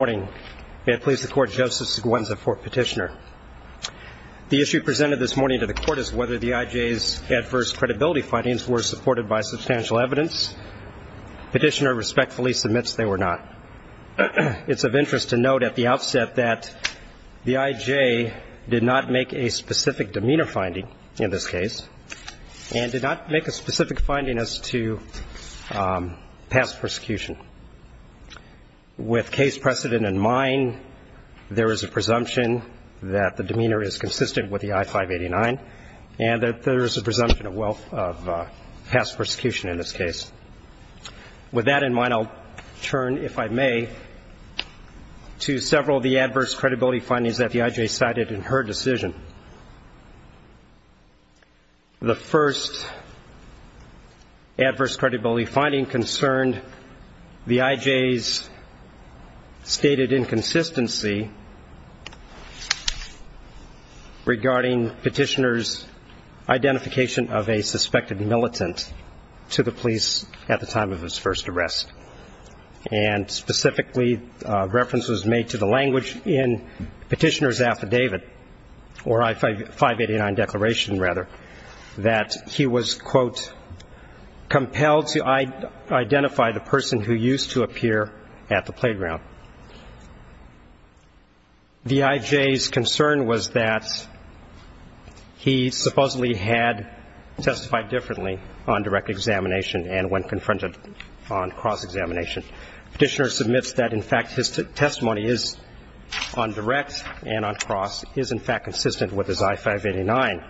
morning. May it please the court, Joseph Seguenza, court petitioner. The issue presented this morning to the court is whether the IJ's adverse credibility findings were supported by substantial evidence. Petitioner respectfully submits they were not. It's of interest to note at the outset that the IJ did not make a specific demeanor finding in this case and did not make a specific finding as to past persecution. With case precedent in mind, there is a presumption that the demeanor is consistent with the I-589, and that there is a presumption of wealth of past persecution in this case. With that in mind, I'll turn, if I may, to several of the adverse credibility findings that the IJ cited in her decision. The first adverse credibility finding concerned the IJ's stated inconsistency regarding petitioner's identification of a suspected militant to the police at the time of his first arrest. And specifically, reference was made to the language in petitioner's affidavit, or I-589 declaration, rather, that he was, quote, compelled to identify the person who identified him as a militant. The IJ's concern was that he supposedly had testified differently on direct examination and when confronted on cross-examination. Petitioner submits that, in fact, his testimony is, on direct and on cross, is, in fact, consistent with his I-589.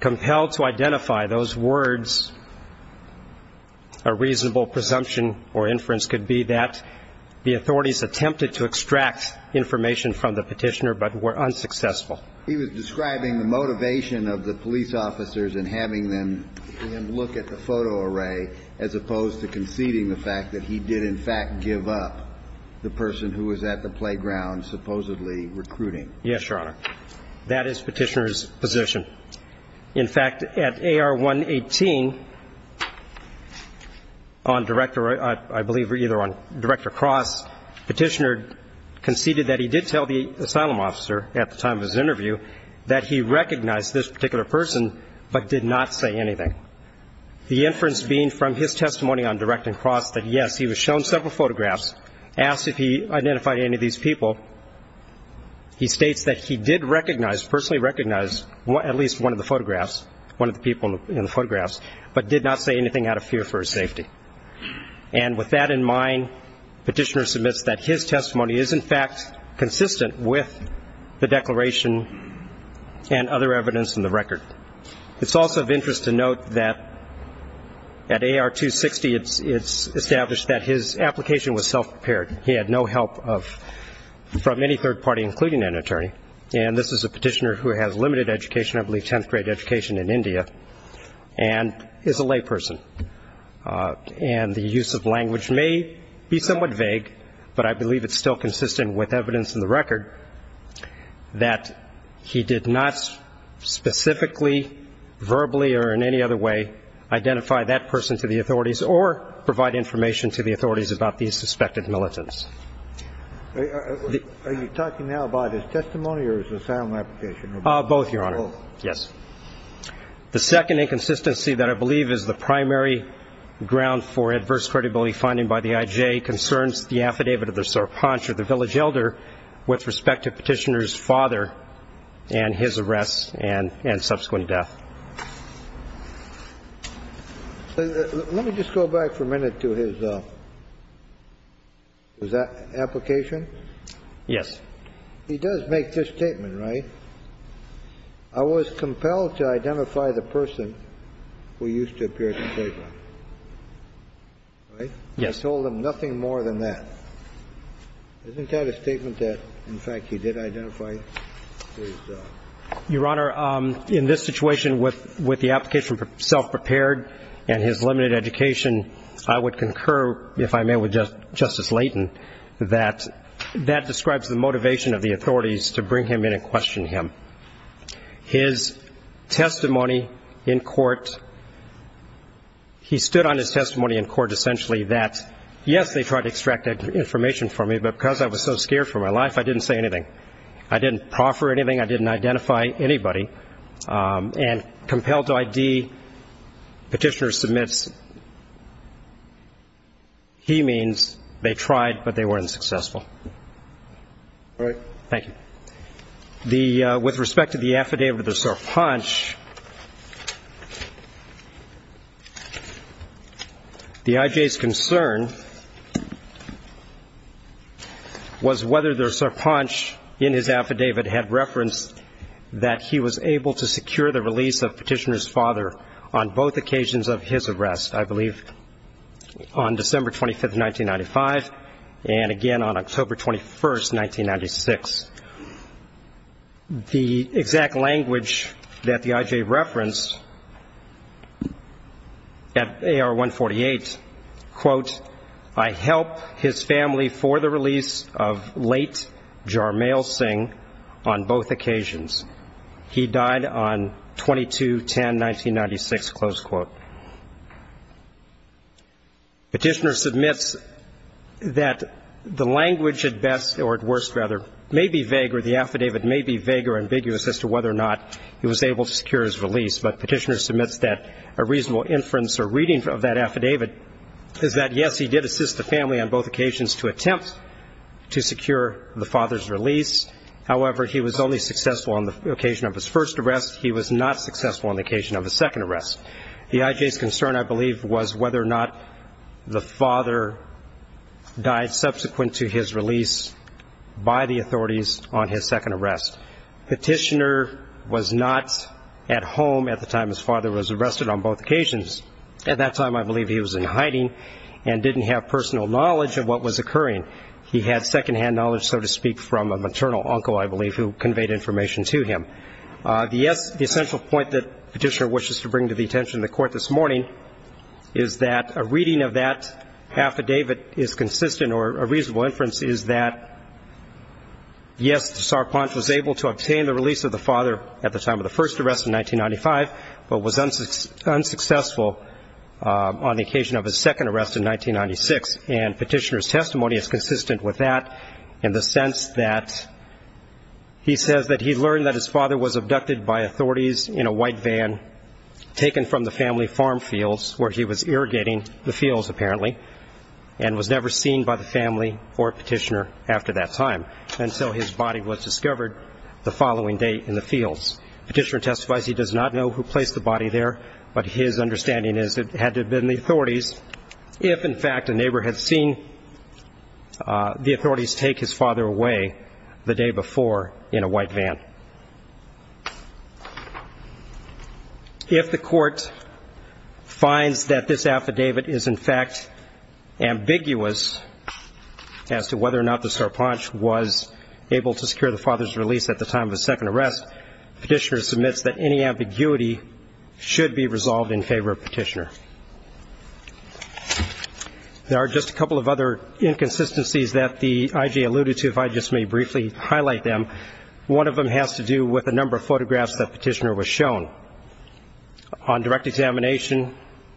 Compelled to identify those words, a reasonable presumption or inference could be that the authorities attempted to extract information from the petitioner but were unsuccessful. He was describing the motivation of the police officers in having them look at the photo array, as opposed to conceding the fact that he did, in fact, give up the person who was at the playground supposedly recruiting. Yes, Your Honor. That is petitioner's position. In fact, at AR-118, on direct examination, the director, I believe either on direct or cross, petitioner conceded that he did tell the asylum officer at the time of his interview that he recognized this particular person but did not say anything. The inference being from his testimony on direct and cross that, yes, he was shown several photographs, asked if he identified any of these people. He states that he did recognize, personally recognize, at least one of the photographs, one of the people in the photographs, but did not say anything out of fear for his safety. And with that in mind, petitioner submits that his testimony is, in fact, consistent with the declaration and other evidence in the record. It's also of interest to note that at AR-260, it's established that his application was self-prepared. He had no help from any third party, including an attorney. And this is a petitioner who has limited education, I believe 10th grade education in India, and is a lay person. And the use of language may be somewhat vague, but I believe it's still consistent with evidence in the record that he did not specifically, verbally, or in any other way, identify that person to the authorities or provide information to the authorities about these suspected militants. Are you talking now about his testimony or his asylum application? Both, Your Honor. Yes. The second inconsistency that I believe is the primary ground for adverse credibility finding by the IJ concerns the affidavit of the Sarpanch or the village elder with respect to petitioner's father and his arrest and subsequent death. Let me just go back for a minute to his application. He does make this statement, right? I was compelled to identify the person who used to appear at the playground, right? Yes. I told him nothing more than that. Isn't that a statement that, in fact, he did identify? Your Honor, in this situation, with the application for self-prepared and his limited education, I would concur, if I may, with Justice Leighton, that that describes the motivation of the authorities to bring him in and question him. His testimony in court, he stood on his testimony in court essentially that, yes, they tried to extract that information from me, but because I was so scared for my life, I didn't say anything. I didn't proffer anything. I didn't identify anybody. And compelled to ID, petitioner submits, he means they tried, but they weren't successful. All right. Thank you. With respect to the affidavit of the Sarpanch, the I.J.'s concern was whether the Sarpanch in his affidavit had referenced that he was able to secure the release of petitioner's father on both occasions of his arrest, I believe, on December 25, 1995, and again on October 21, 1996. The exact language that the I.J. referenced at AR-148, quote, I help his family for the release of late Jarmail Singh on both occasions. He died on 22-10-1996, close quote. Petitioner submits that he was able to secure the release of Jarmail Singh on both occasions of his arrest, and that the language at best, or at worst, rather, may be vague, or the affidavit may be vague or ambiguous as to whether or not he was able to secure his release, but petitioner submits that a reasonable inference or reading of that affidavit is that, yes, he did assist the family on both occasions to attempt to secure the father's release. However, he was only successful on the occasion of his first arrest. He was not successful on the occasion of his second arrest. The I.J.'s concern, I believe, was whether or not the father died subsequent to his release by the authorities on his second arrest. Petitioner was not at home at the time his father was arrested on both occasions. At that time, I believe, he was in hiding and didn't have personal knowledge of what was occurring. He had second-hand knowledge, so to speak, from a maternal uncle, I believe, who conveyed information to him. The essential point that petitioner wishes to bring to the attention of the public is that, yes, he did succeed in obtaining the release of his father at the time of his first arrest in 1995, but was unsuccessful on the occasion of his second arrest in 1996. And petitioner's testimony is consistent with that in the sense that he says that he learned that his father was in hiding from the family farm fields where he was irrigating the fields, apparently, and was never seen by the family or petitioner after that time until his body was discovered the following day in the fields. Petitioner testifies he does not know who placed the body there, but his understanding is it had to have been the authorities if, in fact, a neighbor had seen the authorities take his father away the day before in a white van. If the court finds that this affidavit is, in fact, ambiguous as to whether or not the Sarpanch was able to secure the father's release at the time of his second arrest, petitioner submits that any ambiguity should be resolved in favor of petitioner. There are just a couple of other inconsistencies that the IG alluded to, if I just may briefly highlight them. One of them has to do with the fact that the father was not seen by the authorities. Another has to do with the number of photographs that petitioner was shown. On direct examination,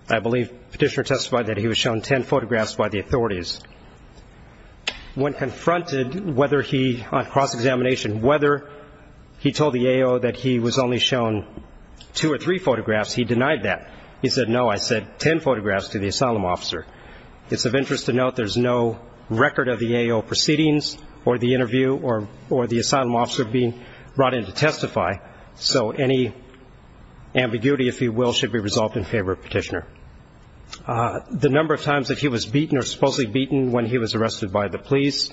I believe petitioner testified that he was shown ten photographs by the authorities. When confronted whether he, on cross-examination, whether he told the AO that he was only shown two or three photographs, he denied that. He said, no, I said ten photographs to the asylum officer. It's of interest to note there's no record of the AO proceedings or the interview or the asylum officer being brought before the court to testify, so any ambiguity, if you will, should be resolved in favor of petitioner. The number of times that he was beaten or supposedly beaten when he was arrested by the police,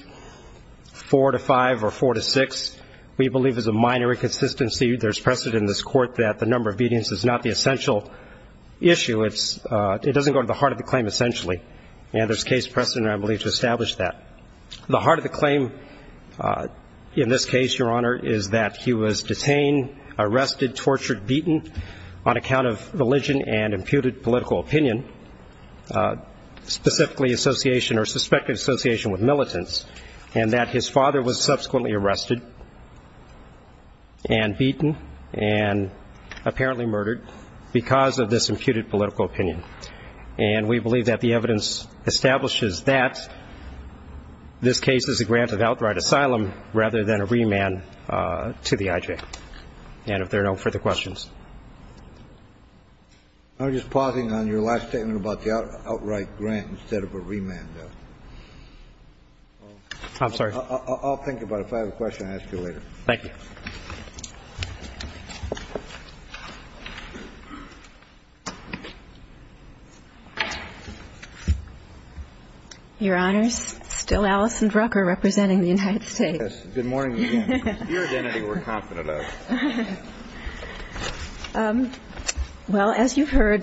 four to five or four to six, we believe is a minor inconsistency. There's precedent in this court that the number of beatings is not the essential issue. It doesn't go to the heart of the claim, essentially. And there's case precedent, I believe, to establish that. The heart of the claim in this case, Your Honor, is that he was detained, arrested, tortured, beaten on account of religion and imputed political opinion, specifically association or suspected association with militants, and that his father was subsequently arrested and beaten and apparently murdered because of this imputed political opinion. And we believe that the evidence establishes that this case is a grant of outright asylum rather than a remand to the IJ. And if there are no further questions. I'm just pausing on your last statement about the outright grant instead of a remand. I'm sorry. I'll think about it. If I have a question, I'll ask you later. Your Honors, still Alison Drucker representing the United States. Well, as you've heard,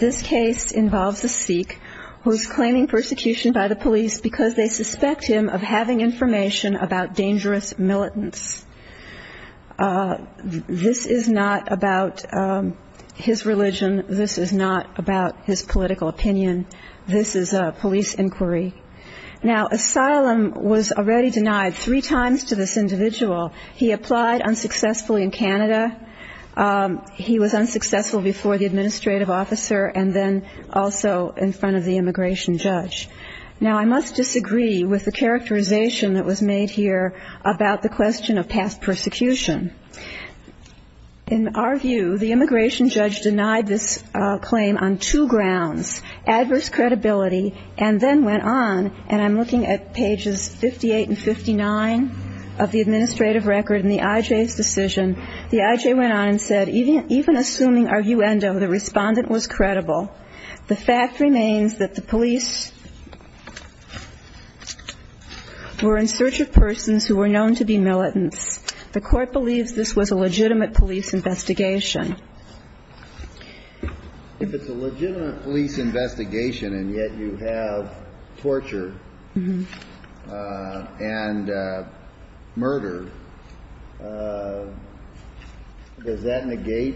this case involves a Sikh who's claiming persecution by the police because they suspect him of having information about dangerous militants. This is not about his religion. This is not about his political opinion. This is a police inquiry. Now, asylum was already denied three times to this individual. He applied unsuccessfully in Canada. He was unsuccessful before the administrative officer and then also in front of the immigration judge. Now, I must disagree with the characterization that was made here about the question of past persecution. In our view, the immigration judge denied this claim on two grounds, adverse credibility and then went on, and I'm looking at pages 58 and 59 of the administrative record in the IJ's decision. The IJ went on and said, even assuming arguendo, the respondent was credible. The fact remains that the police were in search of persons who were known to be militants. The court believes this was a legitimate police investigation. If it's a legitimate police investigation and yet you have torture and murder, does that negate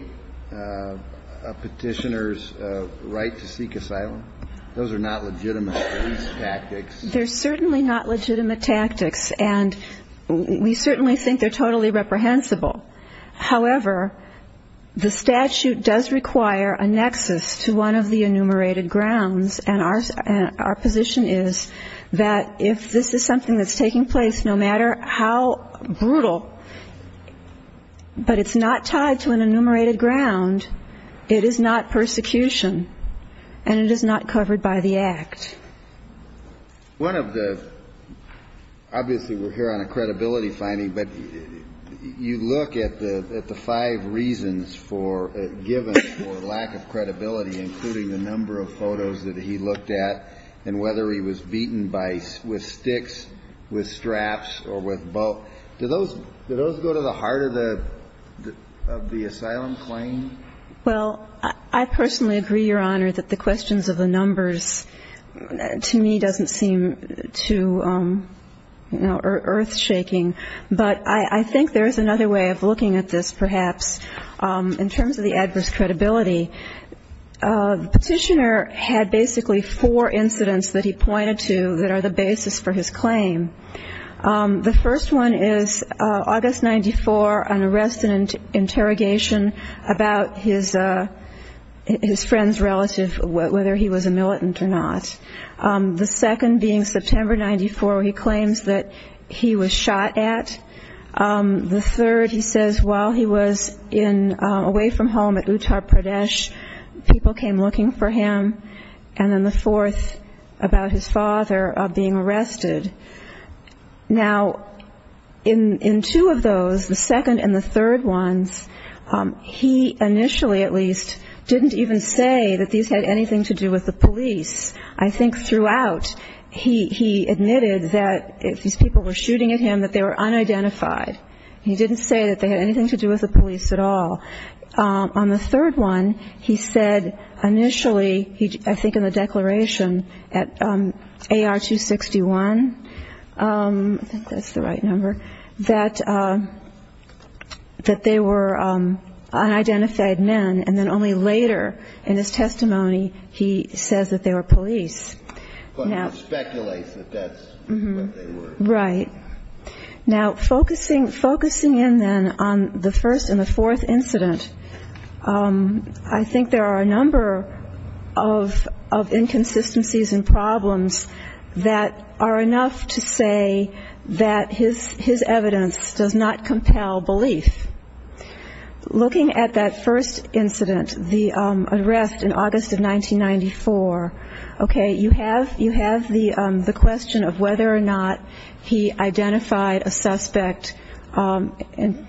a petitioner's right to seek asylum? Those are not legitimate police tactics. They're certainly not legitimate tactics, and we certainly think they're totally reprehensible. However, the statute does require a nexus to one of the enumerated grounds, and our position is that if this is something that's taking place, no matter how brutal, but it's not tied to an enumerated ground, it is not persecution, and it is not covered by the act. One of the, obviously we're here on a credibility finding, but you look at the five reasons given for lack of credibility, including the number of photos that he looked at and whether he was beaten with sticks, with straps, or with both. Do those go to the heart of the asylum claim? I think there's another way of looking at this, perhaps, in terms of the adverse credibility. The petitioner had basically four incidents that he pointed to that are the basis for his claim. The first one is August 94, an arrest and interrogation about his friend's relative, whether he was a militant or not. The second being September 94, where he claims that he was shot at. The third, he says, while he was away from home at Uttar Pradesh, people came looking for him. And then the fourth, about his father being arrested. Now, in two of those, the second and the third ones, he initially, at least, didn't even say that these had anything to do with his father's relative. He didn't say that they had anything to do with the police. I think throughout, he admitted that if these people were shooting at him, that they were unidentified. He didn't say that they had anything to do with the police at all. On the third one, he said initially, I think in the declaration at AR 261, I think that's the right number, that they were unidentified men. And then only later, in his testimony, he says that they were police. Now, focusing in, then, on the first and the fourth incident, I think there are a number of inconsistencies and problems that are enough to say that his evidence does not compel belief. Looking at that first incident, the arrest and interrogation about his father being arrested in August of 1994, okay, you have the question of whether or not he identified a suspect and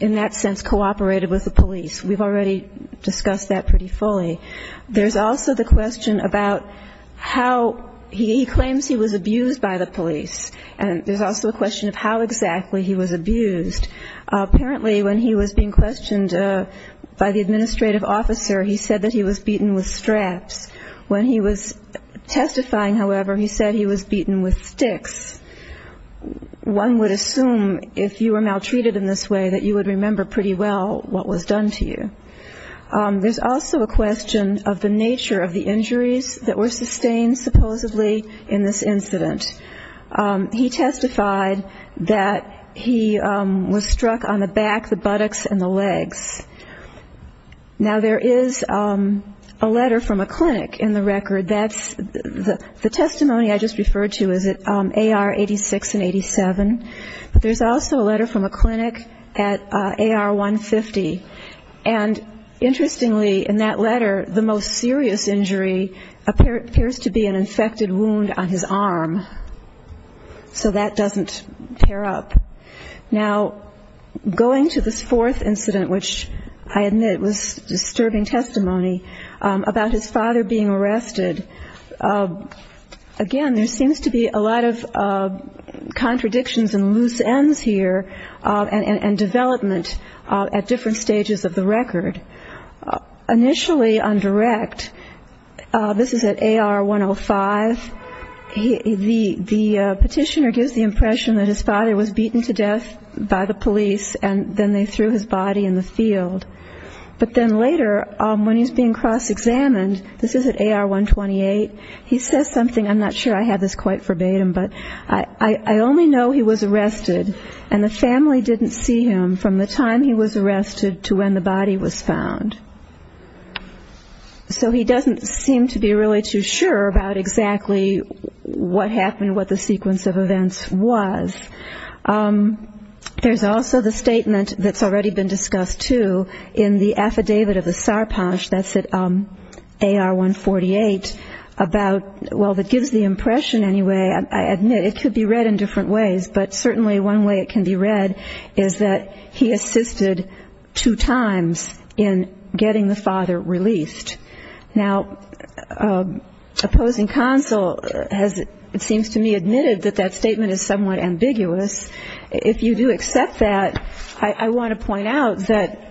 in that sense cooperated with the police. We've already discussed that pretty fully. There's also the question about how he claims he was abused by the police. And there's also a question of how exactly he was abused. Apparently, when he was being questioned by the police, he was beaten with straps. When he was testifying, however, he said he was beaten with sticks. One would assume, if you were maltreated in this way, that you would remember pretty well what was done to you. There's also a question of the nature of the injuries that were sustained, supposedly, in this incident. He testified that he was struck on the back, the buttocks and the legs. Now, there is a letter from a clinic in the record. The testimony I just referred to is at AR 86 and 87. But there's also a letter from a clinic at AR 150. And interestingly, in that letter, the most serious injury appears to be an infected wound on his arm. So that doesn't tear up. Now, going to this fourth incident, which I admit was disturbing testimony, about his father being arrested, again, there seems to be a lot of contradictions and loose ends here and development at different stages of the record. Initially on direct, this is at AR 105, the father was beaten to death by the police and then they threw his body in the field. But then later, when he's being cross-examined, this is at AR 128, he says something, I'm not sure I have this quite verbatim, but, I only know he was arrested and the family didn't see him from the time he was arrested to when the body was found. So he doesn't seem to be really too sure about exactly what happened, what the sequence of events was. There's also the statement that's already been discussed, too, in the affidavit of the Sarpanch, that's at AR 148, about, well, that gives the impression anyway, I admit it could be read in different ways, but certainly one way it can be read is that he assisted two times in getting the father released. Now, opposing counsel has, it seems to me, admitted that that statement is somewhat ambiguous. If you do accept that, I want to point out that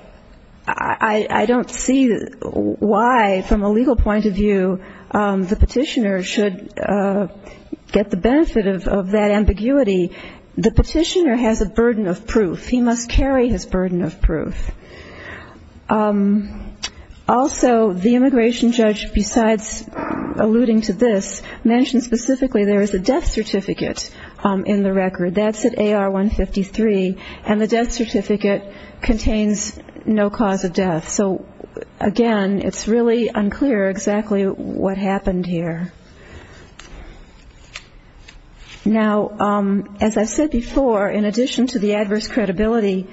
I don't see why, from a legal point of view, the petitioner should get the benefit of that ambiguity. The petitioner has a burden of proof. He must carry his burden of proof. Also, the immigration judge, besides alluding to this, mentioned specifically there is a death certificate in the record. That's at AR 153, and the death certificate contains no cause of death. So, again, it's really unclear exactly what happened here. Now, as I've said before, in addition to the adverse credibility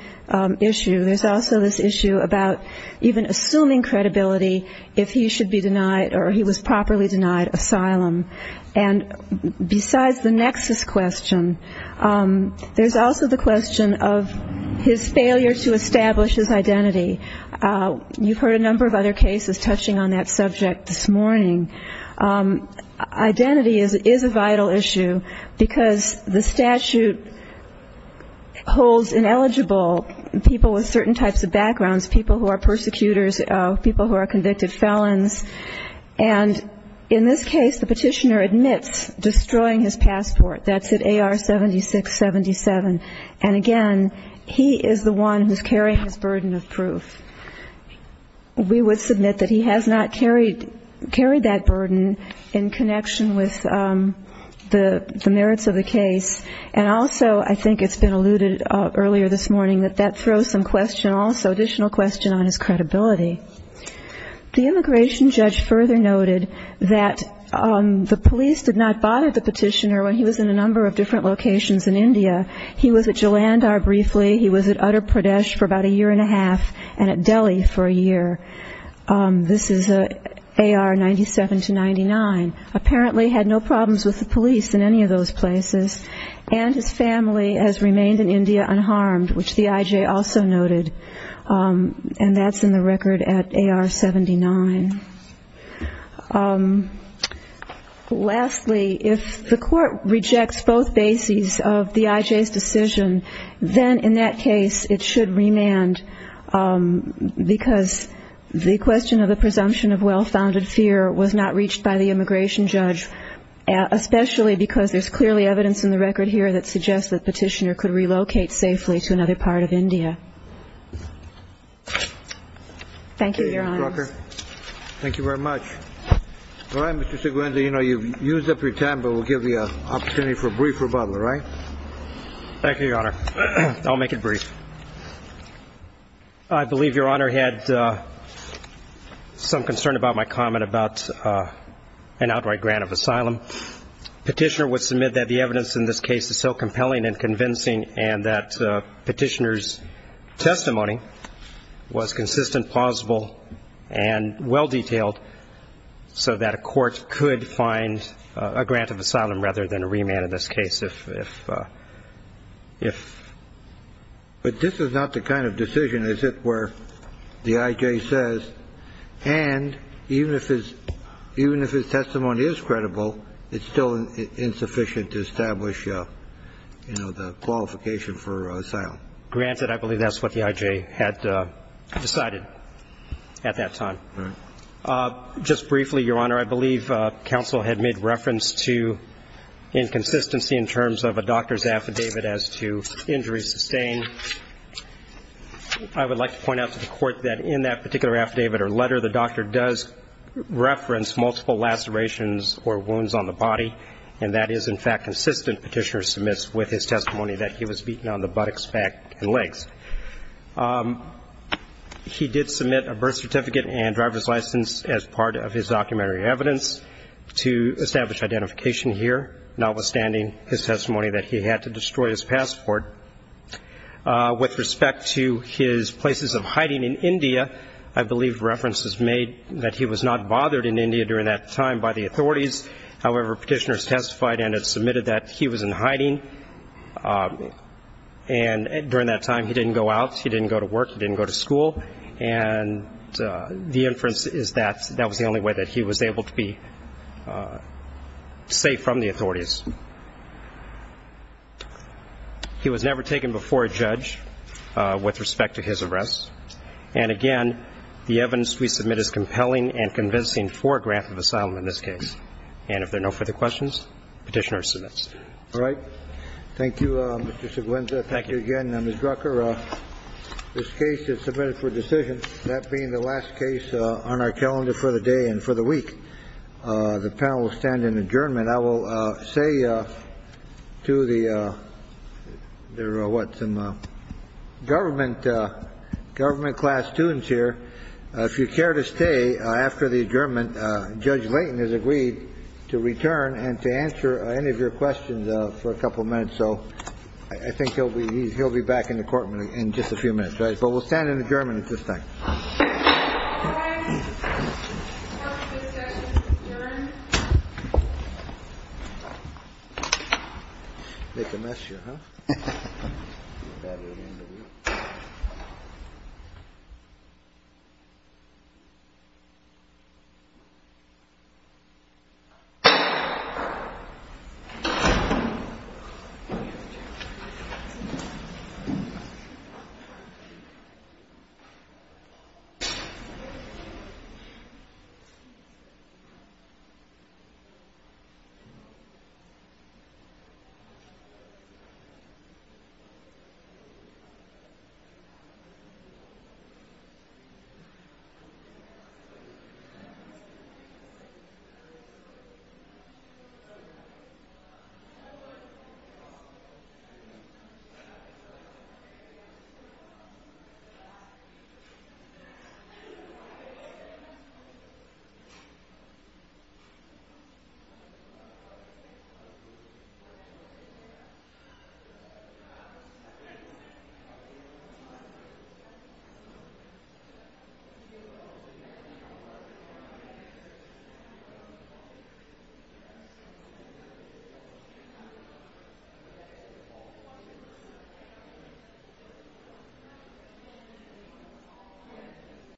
issue, there's also a death certificate, and the death certificate is also this issue about even assuming credibility if he should be denied or he was properly denied asylum. And besides the nexus question, there's also the question of his failure to establish his identity. You've heard a number of other cases touching on that subject this morning. Identity is a vital issue, because the statute holds ineligible people with certain types of disabilities. People who are persecutors, people who are convicted felons. And in this case, the petitioner admits destroying his passport. That's at AR 7677. And, again, he is the one who's carrying his burden of proof. We would submit that he has not carried that burden in connection with the merits of the case. And also, I think it's been alluded earlier this morning, that that throws some additional question on his credibility. The immigration judge further noted that the police did not bother the petitioner when he was in a number of different locations in India. He was at Jalandhar briefly, he was at Uttar Pradesh for about a year and a half, and at Delhi for a year. This is AR 97-99. Apparently had no problems with the police in any of those places. And his family has remained in India unharmed, which the I.J. also noted. And that's in the record at AR 79. Lastly, if the court rejects both bases of the I.J.'s decision, then in that case it should remand, because the question of the presumption of well-founded fear was not reached by the immigration judge, especially because there's clearly evidence in the record that the petitioner could relocate safely to another part of India. Thank you, Your Honor. Thank you, Ms. Drucker. Thank you very much. All right, Mr. Segunda, you know you've used up your time, but we'll give you an opportunity for a brief rebuttal, all right? Thank you, Your Honor. I'll make it brief. I believe Your Honor had some concern about my comment about an outright grant of asylum. Petitioner would submit that the evidence in this case is so compelling and convincing and that petitioner's testimony was consistent, plausible, and well-detailed, so that a court could find a grant of asylum rather than a remand in this case, if But this is not the kind of decision, as it were, the I.J. says, and even if his testimony is credible, it's not the kind of decision that the I.J. would make. It's still insufficient to establish, you know, the qualification for asylum. Granted, I believe that's what the I.J. had decided at that time. Just briefly, Your Honor, I believe counsel had made reference to inconsistency in terms of a doctor's affidavit as to injury sustained. I would like to point out to the Court that in that particular affidavit or letter, the doctor does reference multiple lacerations or wounds on the body, and that is, in fact, consistent, Petitioner submits with his testimony that he was beaten on the buttocks, back, and legs. He did submit a birth certificate and driver's license as part of his documentary evidence to establish identification here, notwithstanding his testimony that he had to destroy his passport. With respect to his places of hiding in India, I believe reference is made that he was not bothered in India during that time by the authorities. However, Petitioner has testified and has submitted that he was in hiding, and during that time he didn't go out, he didn't go to work, he didn't go to school, and the inference is that that was the only way that he was able to be safe from the authorities. He was never taken before a judge with respect to his arrests, and again, the evidence is consistent. And I think that's all I have to say. Mr. Dreyfus, if there are no further questions, we submit as compelling and convincing for a grant of asylum in this case. And if there are no further questions, Petitioner submits. All right. Thank you, Mr. Seguinza. Thank you again, Ms. Drucker. This case is submitted for decision, that being the last case on our calendar for the day and for the week. The panel will stand in adjournment. I will say to the government class students here, if you care to stay after the adjournment, Judge Layton has agreed to return and to answer any of your questions for a couple of minutes. So I think he'll be he'll be back in the courtroom in just a few minutes. But we'll stand adjournment at this time. Thank you. Thank you. Thank you.